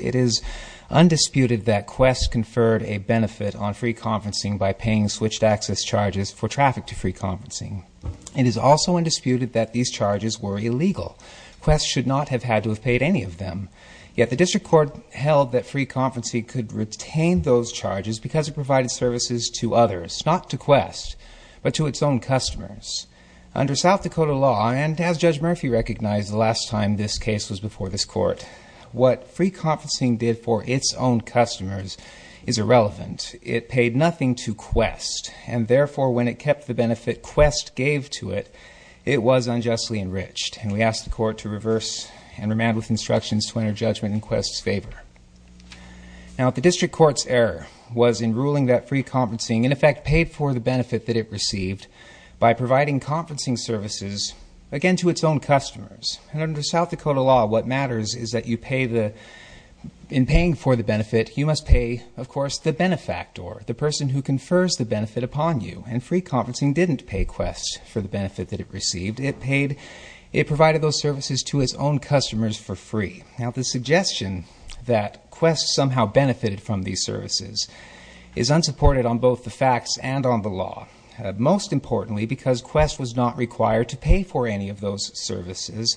It is undisputed that Qwest conferred a benefit on free conferencing by paying switched-access charges for traffic to free conferencing. It is also undisputed that these charges were that Free Conferencing could retain those charges because it provided services to others, not to Qwest, but to its own customers. Under South Dakota law, and as Judge Murphy recognized the last time this case was before this Court, what Free Conferencing did for its own customers is irrelevant. It paid nothing to Qwest, and therefore, when it kept the benefit Qwest gave to it, it was unjustly enriched. We ask the Court to reverse and remand with instructions to enter judgment in Qwest's favor. Now, the District Court's error was in ruling that Free Conferencing, in effect, paid for the benefit that it received by providing conferencing services, again, to its own customers. And under South Dakota law, what matters is that in paying for the benefit, you must pay, of course, the benefactor, the person who confers the benefit upon you. And Free Conferencing didn't pay Qwest for the benefit that it received. It provided those services to its own customers for free. Now, the suggestion that Qwest somehow benefited from these services is unsupported on both the facts and on the law, most importantly because Qwest was not required to pay for any of those services,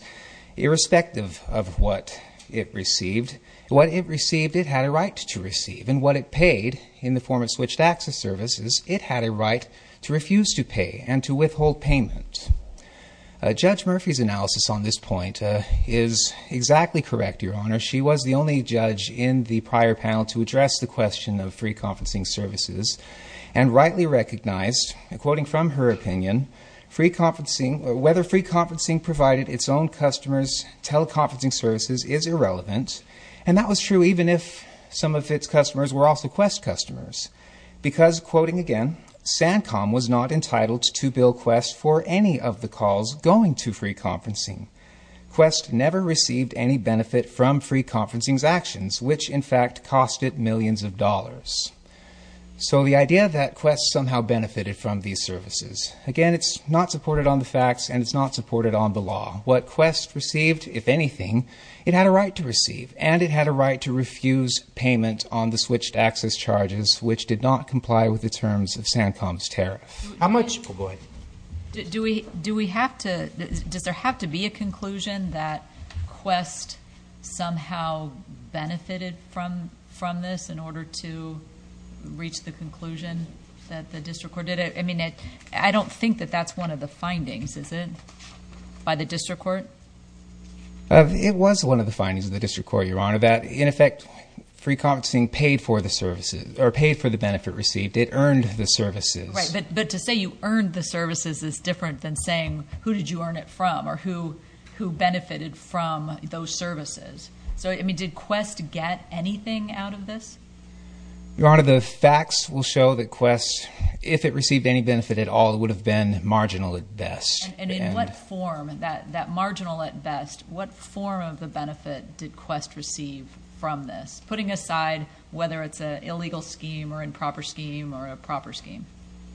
irrespective of what it received. What it received, it had a right to receive. And what it paid, in the form of a benefit, it had a right to receive. Judge Murphy's analysis on this point is exactly correct, Your Honor. She was the only judge in the prior panel to address the question of Free Conferencing services, and rightly recognized, quoting from her opinion, whether Free Conferencing provided its own customers teleconferencing services is irrelevant. And that was true even if some of its customers were also Qwest customers. Because, quoting to Bill Qwest for any of the calls going to Free Conferencing. Qwest never received any benefit from Free Conferencing's actions, which, in fact, cost it millions of dollars. So the idea that Qwest somehow benefited from these services, again, it's not supported on the facts, and it's not supported on the law. What Qwest received, if anything, it had a right to receive. And it had a right to refuse payment on the switched access charges, which did not comply with the terms of Sancom's tariff. How much... Oh, go ahead. Do we have to... Does there have to be a conclusion that Qwest somehow benefited from this in order to reach the conclusion that the district court did? I mean, I don't think that that's one of the findings, is it? By the district court? It was one of the findings of the district court, Your Honor, that, in effect, Free Conferencing paid for the services, or paid for the benefit received. It earned the services. Right, but to say you earned the services is different than saying who did you earn it from, or who benefited from those services. So, I mean, did Qwest get anything out of this? Your Honor, the facts will show that Qwest, if it received any benefit at all, would have been marginal at best. And in what form, that marginal at best, what form of the benefit did Qwest receive from this, putting aside whether it's an illegal scheme, or an improper scheme, or a proper scheme?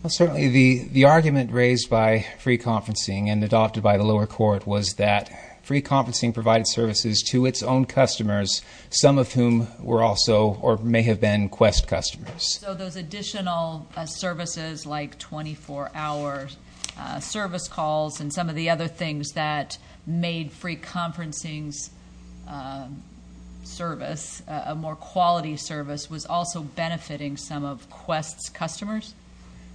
Well, certainly the argument raised by Free Conferencing and adopted by the lower court was that Free Conferencing provided services to its own customers, some of whom were also, or may have been, Qwest customers. So those additional services, like 24-hour service calls and some of the other things that made Free Conferencing's service a more quality service, was also benefiting some of Qwest's customers?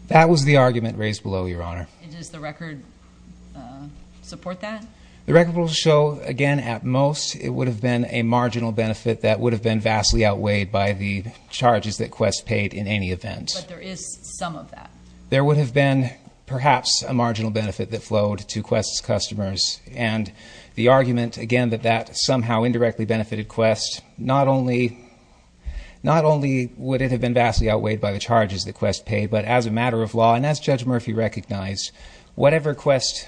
That was the argument raised below, Your Honor. And does the record support that? The record will show, again, at most, it would have been a marginal benefit that would have been vastly outweighed by the charges that Qwest paid in any event. But there is some of that. There would have been, perhaps, a marginal benefit that flowed to Qwest's customers. And the argument, again, that that somehow indirectly benefited Qwest, not only would it have been vastly outweighed by the charges that Qwest paid, but as a matter of law, and as Judge Murphy recognized, whatever Qwest's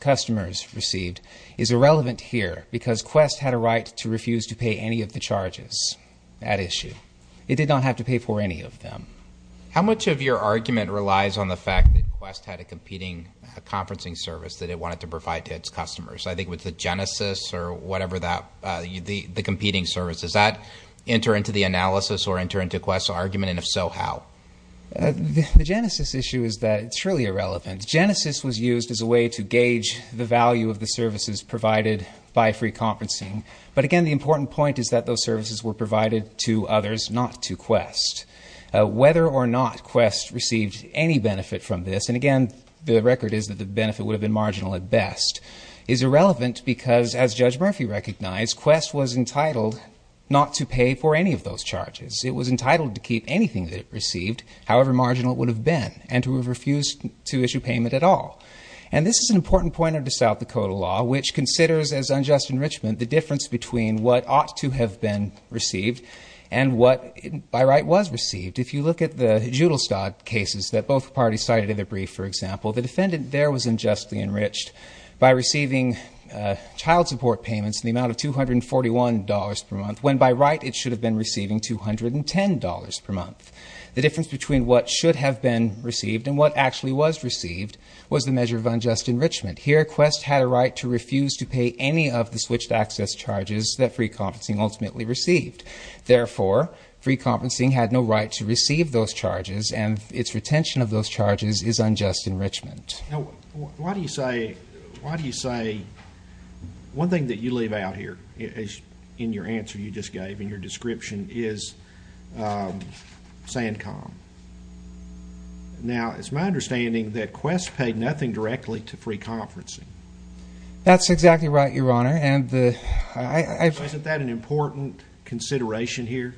customers received is irrelevant here because Qwest had a right to refuse to pay any of the charges at issue. It did not have to pay for any of them. How much of your argument relies on the fact that Qwest had a competing conferencing service that it wanted to provide to its customers? I think it was the Genesys or whatever the competing service. Does that enter into the analysis or enter into Qwest's argument? And if so, how? The Genesys issue is that it's really irrelevant. Genesys was used as a way to gauge the value of the services provided by Free Conferencing. But again, the important point is that those services were provided to others, not to Qwest. Whether or not Qwest received any benefit from this, and again, the record is that the benefit would have been marginal at best, is irrelevant because, as Judge Murphy recognized, Qwest was entitled not to pay for any of those charges. It was entitled to keep anything that it received, however marginal it would have been, and to have refused to issue payment at all. And this is an important point under the South Dakota law, which considers, as unjust enrichment, the difference between what ought to have been received and what, by right, was received. If you look at the Judelstad cases that both parties cited in their brief, for example, the defendant there was unjustly enriched by receiving child support payments in the amount of $241 per month, when by right it should have been receiving $210 per month. The difference between what should have been received and what actually was received was the measure of unjust enrichment. Here, Qwest had a right to refuse to pay any of the switched access charges that free conferencing ultimately received. Therefore, free conferencing had no right to receive those charges, and its retention of those charges is unjust enrichment. Now, why do you say, why do you say, one thing that you leave out here, in your answer you just gave, in your description, is SANCOM. Now, it's my understanding that Qwest paid nothing directly to free conferencing. That's exactly right, Your Honor, and the, I, I, I. So isn't that an important consideration here?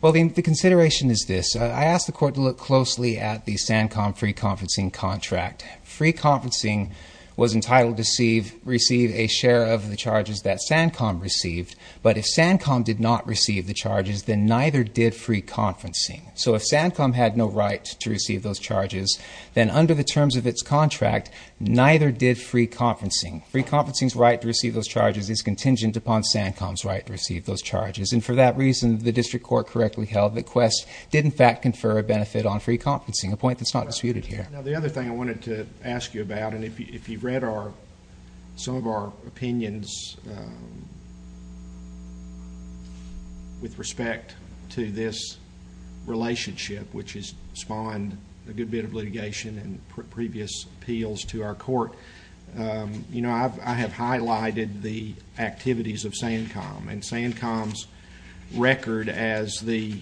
Well, the, the consideration is this. I asked the court to look closely at the SANCOM free conferencing contract. Free conferencing was entitled to receive, receive a share of the charges that SANCOM received, but if SANCOM did not receive the charges, then neither did free conferencing. So if SANCOM had no right to receive those charges, then under the terms of its contract, neither did free conferencing. Free conferencing's right to receive those charges is contingent upon SANCOM's right to receive those charges. And for that reason, the district court correctly held that Qwest did in fact confer a benefit on free conferencing, a point that's not disputed here. Now, the other thing I wanted to ask you about, and if you, if you read our, some of our opinions with respect to this relationship, which has spawned a good bit of litigation and previous appeals to our court. You know, I've, I have highlighted the activities of SANCOM. And SANCOM's record as the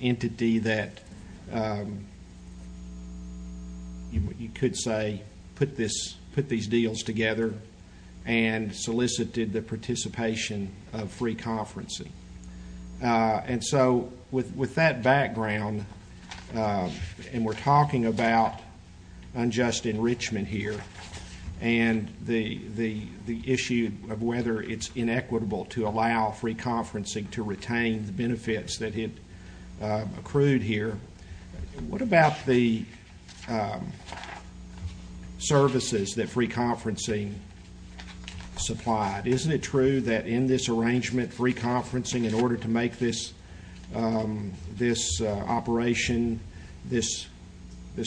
entity that you could say put this, put these deals together and solicited the participation of free conferencing. And so with that background, and we're talking about unjust enrichment here, and the issue of whether it's inequitable to allow free conferencing to retain the benefits that it accrued here. What about the services that free conferencing supplied? Isn't it true that in this arrangement, free conferencing, in order to make this operation, this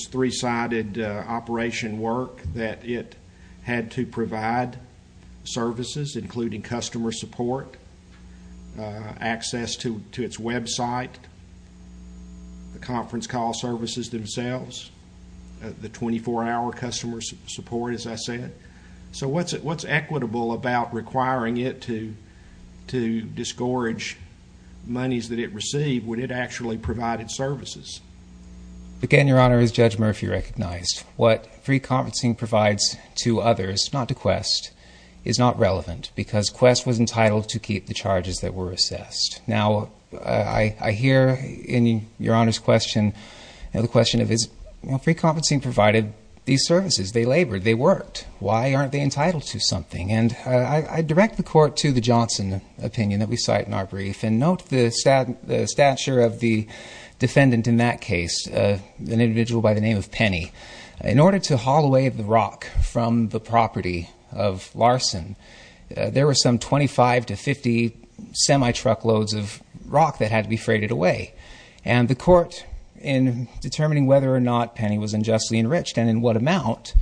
three-sided operation work, that it had to provide services including customer support, access to its website, the conference call services themselves, the 24-hour customer support, as I said. So what's it, what's equitable about requiring it to, to disgorge monies that it received when it actually provided services? Again, Your Honor, as Judge Murphy recognized, what free conferencing provides to others, not to Quest, is not relevant because Quest was entitled to keep the charges that were assessed. Now, I hear in Your Honor's question, the question of is free conferencing provided these services? They labored, they worked. Why aren't they entitled to something? And I direct the court to the Johnson opinion that we cite in our brief. And note the stature of the defendant in that case, an individual by the name of Penny. In order to haul away the rock from the property of Larson, there were some 25 to 50 semi-truck loads of rock that had to be freighted away. And the court, in determining whether or not Penny was unjustly enriched and in what amount,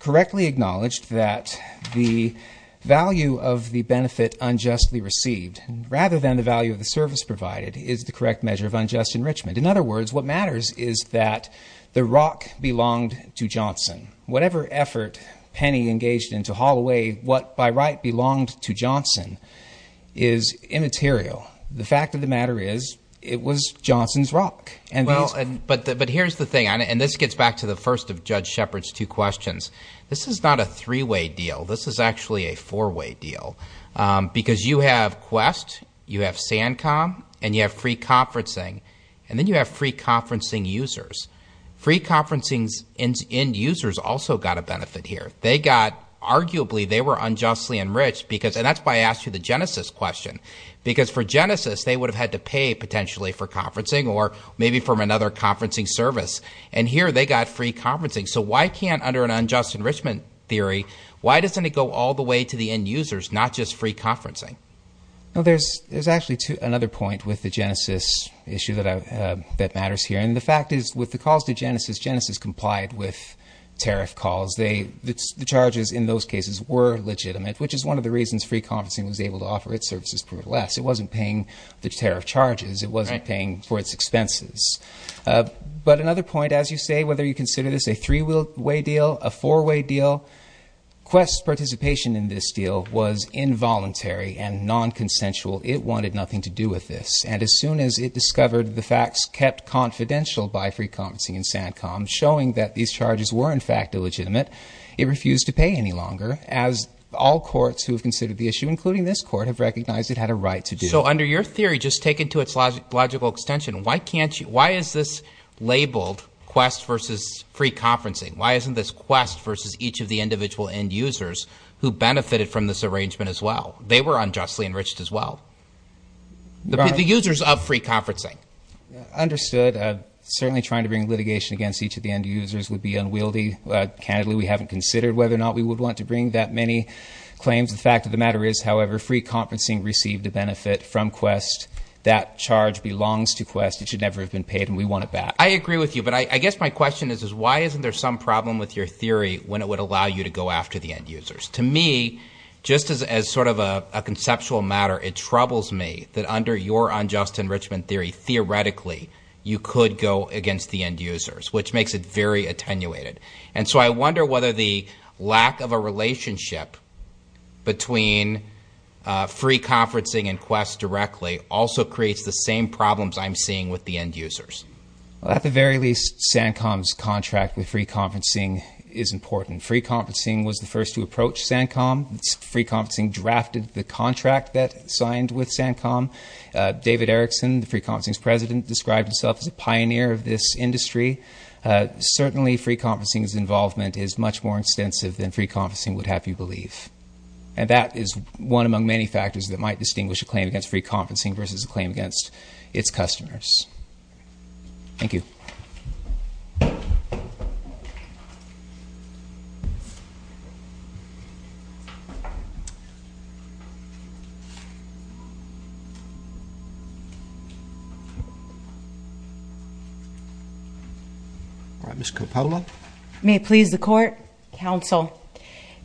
correctly acknowledged that the value of the benefit unjustly received, rather than the value of the service provided, is the correct measure of unjust enrichment. In other words, what matters is that the rock belonged to Johnson. Whatever effort Penny engaged in to haul away what, by right, belonged to Johnson is immaterial. The fact of the matter is, it was Johnson's rock. And these- But here's the thing, and this gets back to the first of Judge Shepard's two questions. This is not a three-way deal. This is actually a four-way deal. Because you have Quest, you have SanCom, and you have free conferencing. And then you have free conferencing users. Free conferencing's end users also got a benefit here. They got- Arguably, they were unjustly enriched because- And that's why I asked you the Genesis question. Because for Genesis, they would have had to pay, potentially, for conferencing, or maybe from another conferencing service. And here, they got free conferencing. So why can't, under an unjust enrichment theory, why doesn't it go all the way to the end users, not just free conferencing? Well, there's actually another point with the Genesis issue that matters here. And the fact is, with the calls to Genesis, Genesis complied with tariff calls. The charges in those cases were legitimate, which is one of the reasons free conferencing was able to offer its services less. It wasn't paying the tariff charges. It wasn't paying for its expenses. But another point, as you say, whether you consider this a three-way deal, a four-way deal, Quest's participation in this deal was involuntary and non-consensual. It wanted nothing to do with this. And as soon as it discovered the facts kept confidential by free conferencing and SanCom, showing that these charges were, in fact, illegitimate, it refused to pay any longer, as all courts who have considered the issue, including this court, have recognized it had a right to do. So under your theory, just taken to its logical extension, why is this labeled Quest versus free conferencing? Why isn't this Quest versus each of the individual end users who benefited from this arrangement as well? They were unjustly enriched as well. The users of free conferencing. Understood. Certainly trying to bring litigation against each of the end users would be unwieldy. Candidly, we haven't considered whether or not we would want to bring that many claims. The fact of the matter is, however, free conferencing received a benefit from Quest. That charge belongs to Quest. It should never have been paid, and we want it back. I agree with you, but I guess my question is, is why isn't there some problem with your theory when it would allow you to go after the end users? To me, just as sort of a conceptual matter, it troubles me that under your unjust enrichment theory, theoretically, you could go against the end users, which makes it very attenuated. And so I wonder whether the lack of a relationship between free conferencing and Quest directly also creates the same problems I'm seeing with the end users. Well, at the very least, SanCom's contract with free conferencing is important. Free conferencing was the first to approach SanCom. Free conferencing drafted the contract that signed with SanCom. David Erickson, the free conferencing's president, described himself as a pioneer of this industry. Certainly, free conferencing's involvement is much more extensive than free conferencing would have you believe. And that is one among many factors that might distinguish a claim against free conferencing versus a claim against its customers. Thank you. All right, Ms. Coppola. May it please the court, counsel.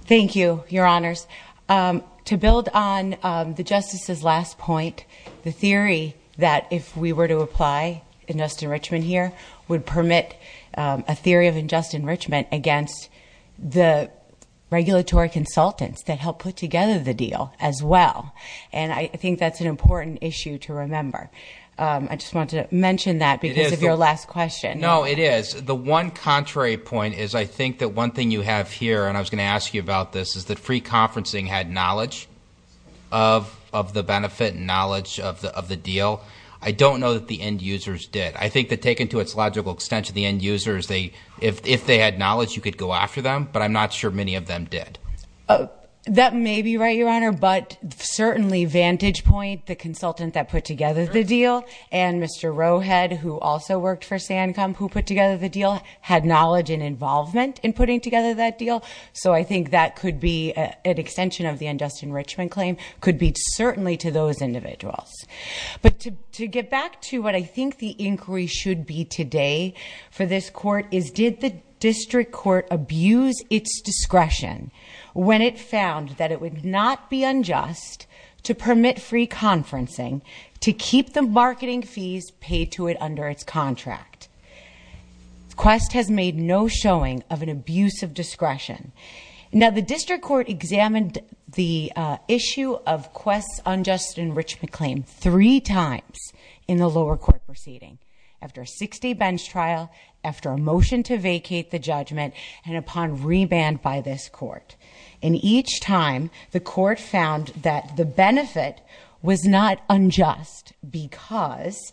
Thank you, your honors. To build on the justice's last point, the theory that if we were to apply just enrichment here would permit a theory of unjust enrichment against the regulatory consultants that help put together the deal as well. And I think that's an important issue to remember. I just wanted to mention that because of your last question. No, it is. The one contrary point is I think that one thing you have here, and I was going to ask you about this, is that free conferencing had knowledge of the benefit and knowledge of the deal. I don't know that the end users did. I think that taken to its logical extension, the end users, if they had knowledge, you could go after them, but I'm not sure many of them did. That may be right, your honor, but certainly Vantage Point, the consultant that put together the deal, and Mr. Rowhead, who also worked for Sancom, who put together the deal, had knowledge and involvement in putting together that deal. So I think that could be an extension of the unjust enrichment claim, could be certainly to those individuals. But to get back to what I think the inquiry should be today for this court is did the district court abuse its discretion when it found that it would not be unjust to permit free conferencing to keep the marketing fees paid to it under its contract? Quest has made no showing of an abuse of discretion. Now the district court examined the issue of Quest's unjust enrichment claim three times in the lower court proceeding. After a 60 bench trial, after a motion to vacate the judgment, and upon reband by this court. And each time, the court found that the benefit was not unjust, because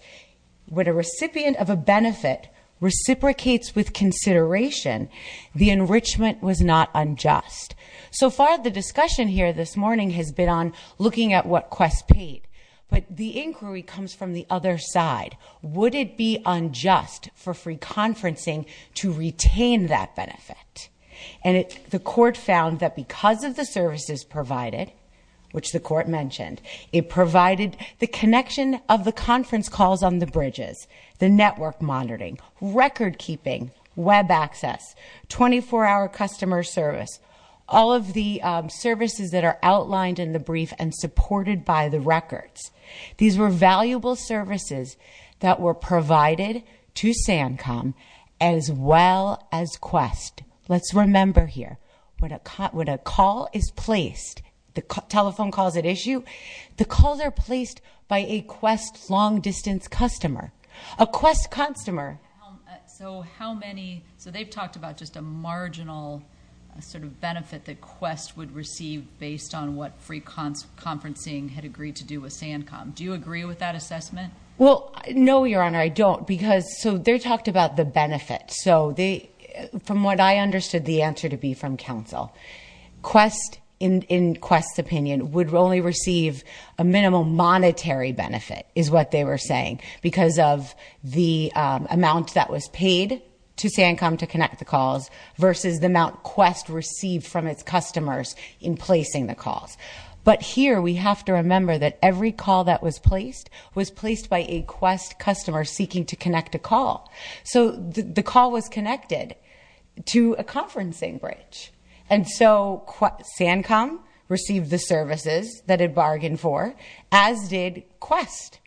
when a recipient of a benefit reciprocates with consideration, the enrichment was not unjust. So far, the discussion here this morning has been on looking at what Quest paid. But the inquiry comes from the other side. Would it be unjust for free conferencing to retain that benefit? And the court found that because of the services provided, which the court mentioned, it provided the connection of the conference calls on the bridges, the network monitoring, record keeping, web access, 24 hour customer service. All of the services that are outlined in the brief and supported by the records. These were valuable services that were provided to SANCOM as well as Quest. Let's remember here, when a call is placed, the telephone calls at issue, the calls are placed by a Quest long distance customer. A Quest customer. So how many, so they've talked about just a marginal sort of benefit that Quest would receive based on what free conferencing had agreed to do with SANCOM. Do you agree with that assessment? Well, no, your honor, I don't. Because, so they talked about the benefit. So, from what I understood the answer to be from counsel. Quest, in Quest's opinion, would only receive a minimum monetary benefit, is what they were saying. Because of the amount that was paid to SANCOM to connect the calls, versus the amount Quest received from its customers in placing the calls. But here, we have to remember that every call that was placed was placed by a Quest customer seeking to connect a call. So the call was connected to a conferencing bridge. And so, SANCOM received the services that it bargained for, as did Quest.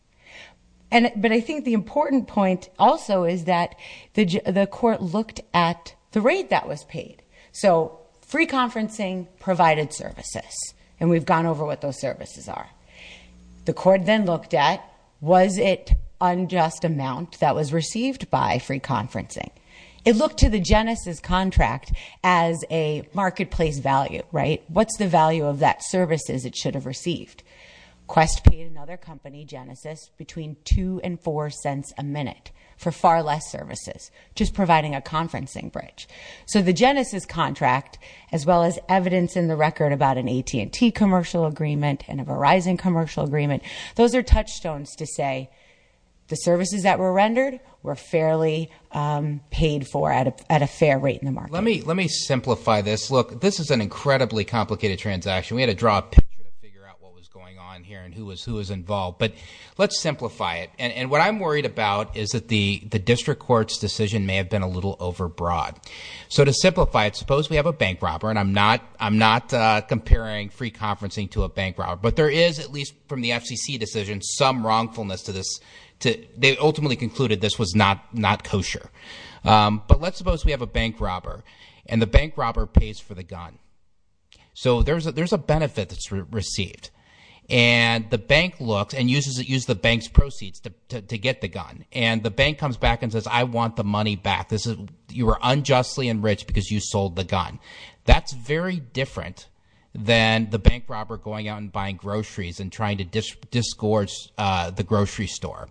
But I think the important point also is that the court looked at the rate that was paid. So, free conferencing provided services, and we've gone over what those services are. The court then looked at, was it unjust amount that was received by free conferencing? It looked to the Genesis contract as a marketplace value, right? What's the value of that services it should have received? Quest paid another company, Genesis, between two and four cents a minute for far less services. Just providing a conferencing bridge. So the Genesis contract, as well as evidence in the record about an AT&T commercial agreement and a Verizon commercial agreement. Those are touchstones to say the services that were rendered were fairly paid for at a fair rate in the market. Let me simplify this. Look, this is an incredibly complicated transaction. We had to draw a picture to figure out what was going on here and who was involved. But let's simplify it. And what I'm worried about is that the district court's decision may have been a little over broad. So to simplify it, suppose we have a bank robber, and I'm not comparing free conferencing to a bank robber. But there is, at least from the FCC decision, some wrongfulness to this. They ultimately concluded this was not kosher. But let's suppose we have a bank robber, and the bank robber pays for the gun. So there's a benefit that's received. And the bank looks and uses the bank's proceeds to get the gun. And the bank comes back and says, I want the money back. You were unjustly enriched because you sold the gun. That's very different than the bank robber going out and buying groceries and trying to disgorge the grocery store.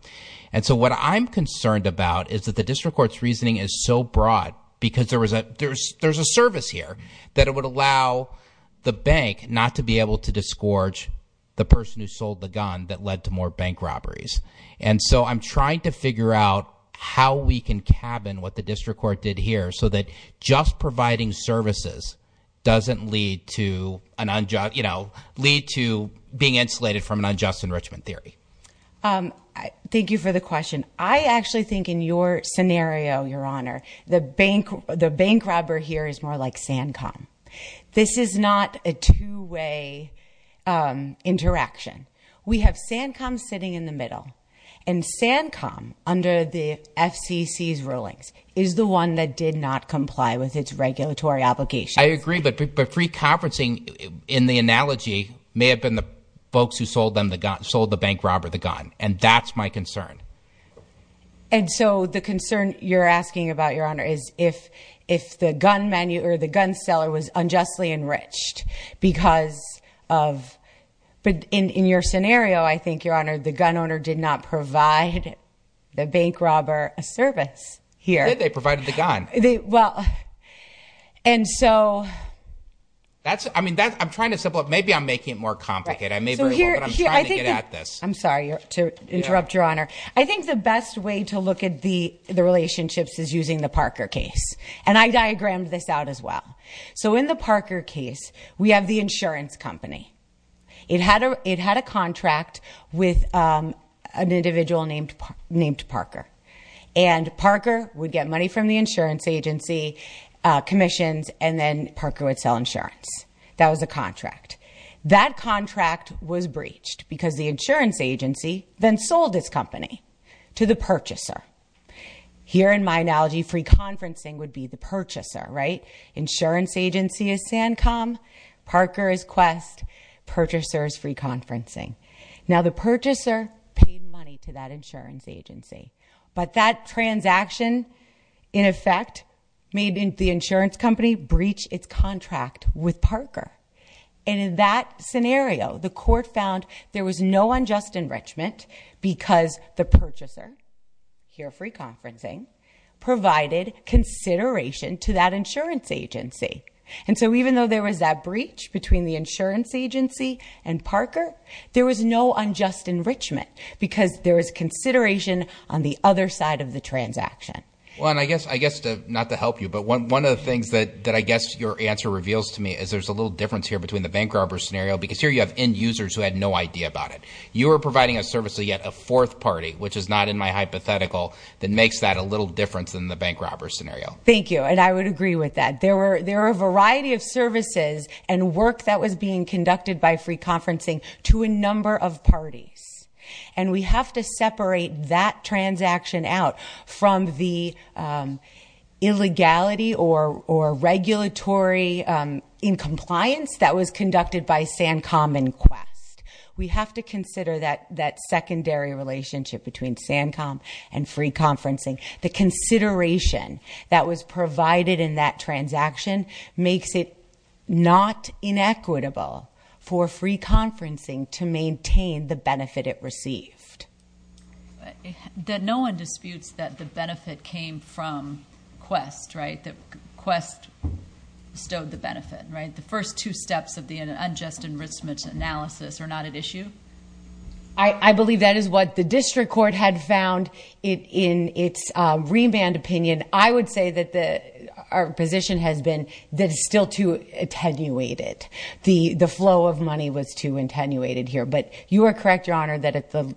And so what I'm concerned about is that the district court's reasoning is so broad. Because there's a service here that it would allow the bank not to be able to disgorge the person who sold the gun that led to more bank robberies. And so I'm trying to figure out how we can cabin what the district court did here so that just providing services doesn't lead to being insulated from an unjust enrichment theory. Thank you for the question. I actually think in your scenario, your honor, the bank robber here is more like Sancom. This is not a two way interaction. We have Sancom sitting in the middle. And Sancom, under the FCC's rulings, is the one that did not comply with its regulatory obligations. I agree, but free conferencing, in the analogy, may have been the folks who sold the bank robber the gun, and that's my concern. And so the concern you're asking about, your honor, is if the gun seller was unjustly enriched because of. But in your scenario, I think, your honor, the gun owner did not provide the bank robber a service here. They provided the gun. Well, and so. That's, I mean, I'm trying to simplify. Maybe I'm making it more complicated. I may very well, but I'm trying to get at this. I'm sorry to interrupt, your honor. I think the best way to look at the relationships is using the Parker case. And I diagrammed this out as well. So in the Parker case, we have the insurance company. It had a contract with an individual named Parker. And Parker would get money from the insurance agency, commissions, and then Parker would sell insurance. That was the contract. That contract was breached because the insurance agency then sold this company to the purchaser. Here in my analogy, free conferencing would be the purchaser, right? Insurance agency is SanCom, Parker is Quest, purchaser is free conferencing. Now the purchaser paid money to that insurance agency. But that transaction, in effect, made the insurance company breach its contract with Parker. And in that scenario, the court found there was no unjust enrichment because the purchaser, here free conferencing, provided consideration to that insurance agency. And so even though there was that breach between the insurance agency and Parker, there was no unjust enrichment because there was consideration on the other side of the transaction. Well, and I guess, not to help you, but one of the things that I guess your answer reveals to me is there's a little difference here between the bank robber scenario. Because here you have end users who had no idea about it. You are providing a service to yet a fourth party, which is not in my hypothetical, that makes that a little different than the bank robber scenario. Thank you, and I would agree with that. There are a variety of services and work that was being conducted by free conferencing to a number of parties. And we have to separate that transaction out from the illegality or regulatory in compliance that was conducted by SanCom and Quest. We have to consider that secondary relationship between SanCom and free conferencing. The consideration that was provided in that transaction makes it not inequitable for free conferencing to maintain the benefit it received. That no one disputes that the benefit came from Quest, right? That Quest bestowed the benefit, right? The first two steps of the unjust enrichment analysis are not at issue? I believe that is what the district court had found in its remand opinion. I would say that our position has been that it's still too attenuated. The flow of money was too attenuated here. But you are correct, Your Honor, that at the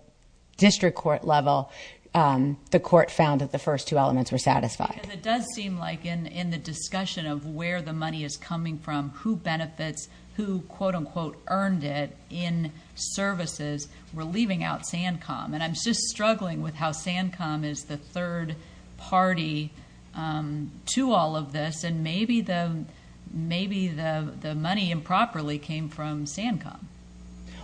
district court level, the court found that the first two elements were satisfied. Because it does seem like in the discussion of where the money is coming from, who benefits, who quote unquote earned it in services, we're leaving out SanCom. And I'm just struggling with how SanCom is the third party to all of this. And maybe the money improperly came from SanCom.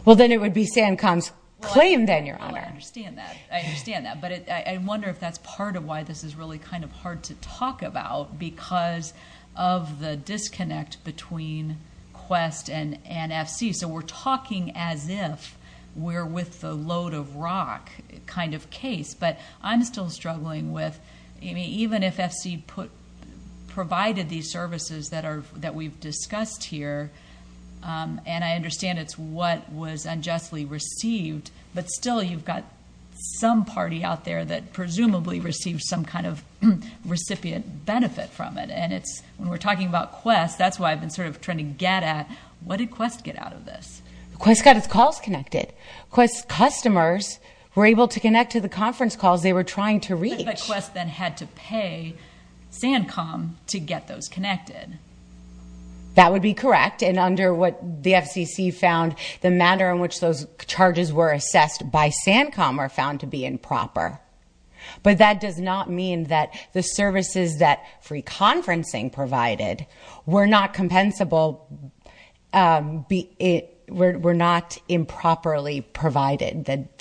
Well then it would be SanCom's claim then, Your Honor. Well I understand that, I understand that. But I wonder if that's part of why this is really kind of hard to talk about, because of the disconnect between Quest and FC. So we're talking as if we're with the load of rock kind of case. But I'm still struggling with, even if FC provided these services that we've discussed here, and I understand it's what was unjustly received. But still you've got some party out there that presumably received some kind of recipient benefit from it. And it's, when we're talking about Quest, that's why I've been sort of trying to get at, what did Quest get out of this? Quest got its calls connected. Quest's customers were able to connect to the conference calls they were trying to reach. But Quest then had to pay SanCom to get those connected. That would be correct, and under what the FCC found, the manner in which those charges were assessed by SanCom were found to be improper. But that does not mean that the services that free conferencing provided were not compensable, were not improperly provided, that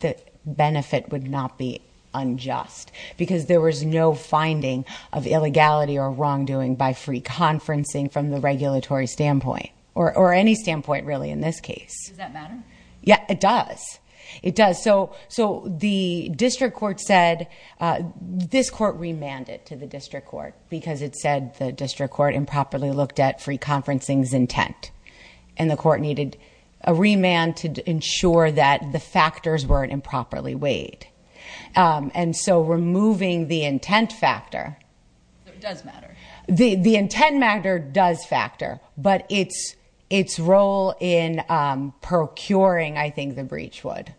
the benefit would not be unjust. Because there was no finding of illegality or wrongdoing by free conferencing from the regulatory standpoint. Or any standpoint, really, in this case. Does that matter? Yeah, it does. It does. So the district court said, this court remanded to the district court, because it said the district court improperly looked at free conferencing's intent. And the court needed a remand to ensure that the factors weren't improperly weighed. And so removing the intent factor... So it does matter. The intent matter does factor. But its role in procuring, I think, the breach would.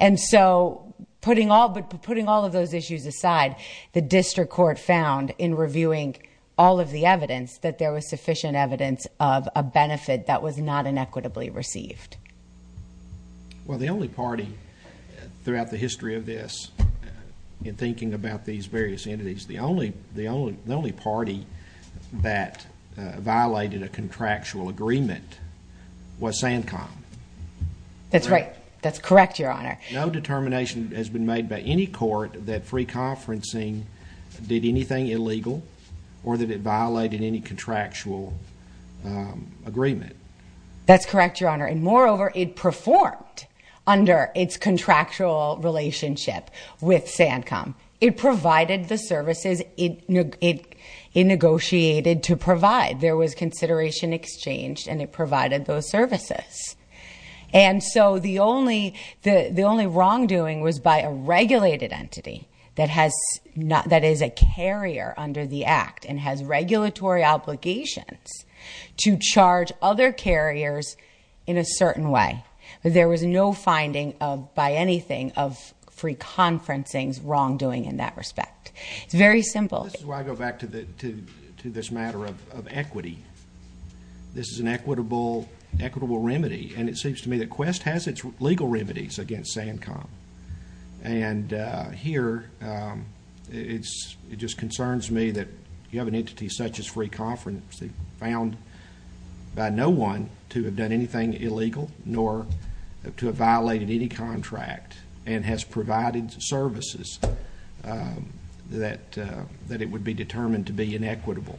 And so, putting all of those issues aside, the district court found, in reviewing all of the evidence, that there was sufficient evidence of a benefit that was not inequitably received. Well, the only party throughout the history of this, in thinking about these various entities, the only party that violated a contractual agreement was SANCOM. That's right. That's correct, Your Honor. No determination has been made by any court that free conferencing did anything illegal, or that it violated any contractual agreement. That's correct, Your Honor. And moreover, it performed under its contractual relationship with SANCOM. It provided the services it negotiated to provide. There was consideration exchanged, and it provided those services. And so the only wrongdoing was by a regulated entity that is a carrier under the act, and has regulatory obligations to charge other carriers in a certain way. There was no finding, by anything, of free conferencing's wrongdoing in that respect. It's very simple. This is why I go back to this matter of equity. This is an equitable remedy. And it seems to me that Quest has its legal remedies against SANCOM. And here, it just concerns me that you have an entity such as free conferencing, found by no one to have done anything illegal, nor to have violated any contract, and has provided services that it would be determined to be inequitable,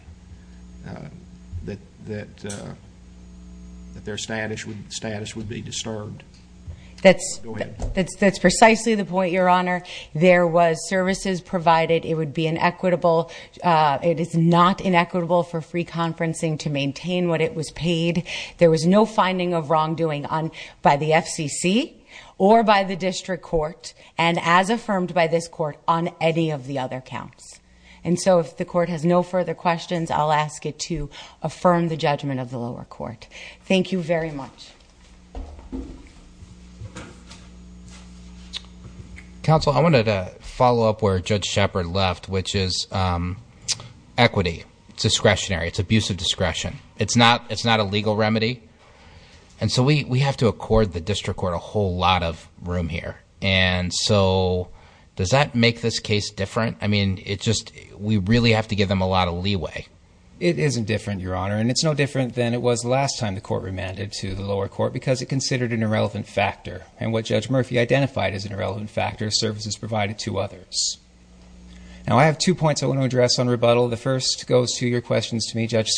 that their status would be disturbed. That's precisely the point, Your Honor. There was services provided. It would be inequitable. It is not inequitable for free conferencing to maintain what it was paid. There was no finding of wrongdoing by the FCC, or by the district court, and as affirmed by this court, on any of the other counts. And so if the court has no further questions, I'll ask it to affirm the judgment of the lower court. Thank you very much. Counsel, I wanted to follow up where Judge Shepard left, which is equity, it's discretionary, it's abuse of discretion. It's not a legal remedy. And so we have to accord the district court a whole lot of room here. And so does that make this case different? I mean, we really have to give them a lot of leeway. It isn't different, Your Honor. And it's no different than it was last time the court remanded to the lower court, because it considered an irrelevant factor. And what Judge Murphy identified as an irrelevant factor, services provided to others. Now, I have two points I want to address on rebuttal. The first goes to your questions to me, Judge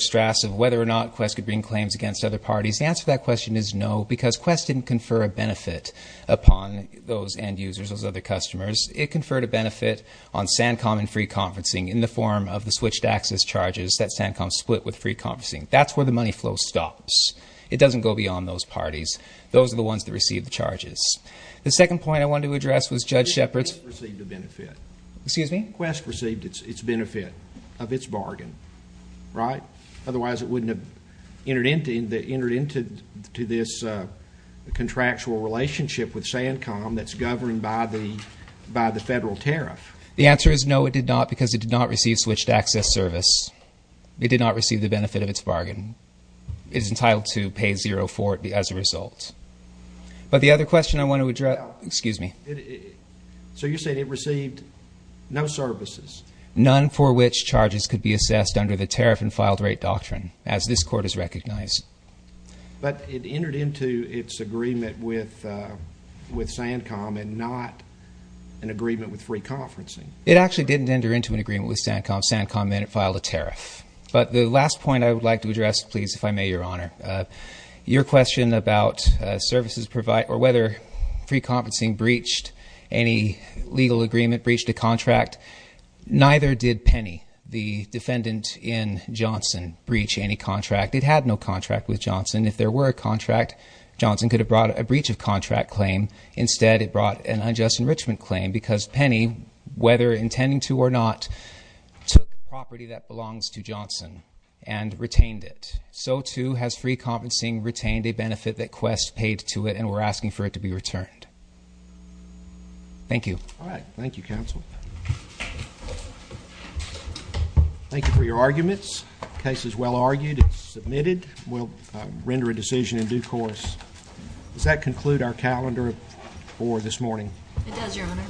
Strass, of whether or not Quest could bring claims against other parties. The answer to that question is no, because Quest didn't confer a benefit upon those end users, those other customers. It conferred a benefit on SanCom and free conferencing, in the form of the switched access charges that SanCom split with free conferencing. That's where the money flow stops. It doesn't go beyond those parties. Those are the ones that receive the charges. The second point I wanted to address was Judge Shepard's- Quest received a benefit. Excuse me? Quest received its benefit of its bargain, right? Otherwise it wouldn't have entered into this contractual relationship with SanCom that's governed by the federal tariff. The answer is no, it did not, because it did not receive switched access service. It did not receive the benefit of its bargain. It's entitled to pay zero for it as a result. But the other question I want to address- Excuse me? So you're saying it received no services? None for which charges could be assessed under the tariff and filed rate doctrine, as this court has recognized. But it entered into its agreement with SanCom and not an agreement with free conferencing. SanCom filed a tariff. But the last point I would like to address, please, if I may, Your Honor. Your question about services provide, or whether free conferencing breached any legal agreement, breached a contract. Neither did Penny, the defendant in Johnson, breach any contract. It had no contract with Johnson. If there were a contract, Johnson could have brought a breach of contract claim. Instead, it brought an unjust enrichment claim, because Penny, whether intending to or not, took property that belongs to Johnson and retained it. So too has free conferencing retained a benefit that Quest paid to it, and we're asking for it to be returned. Thank you. All right, thank you, counsel. Thank you for your arguments. Case is well argued. It's submitted. We'll render a decision in due course. Does that conclude our calendar for this morning? It does, Your Honor.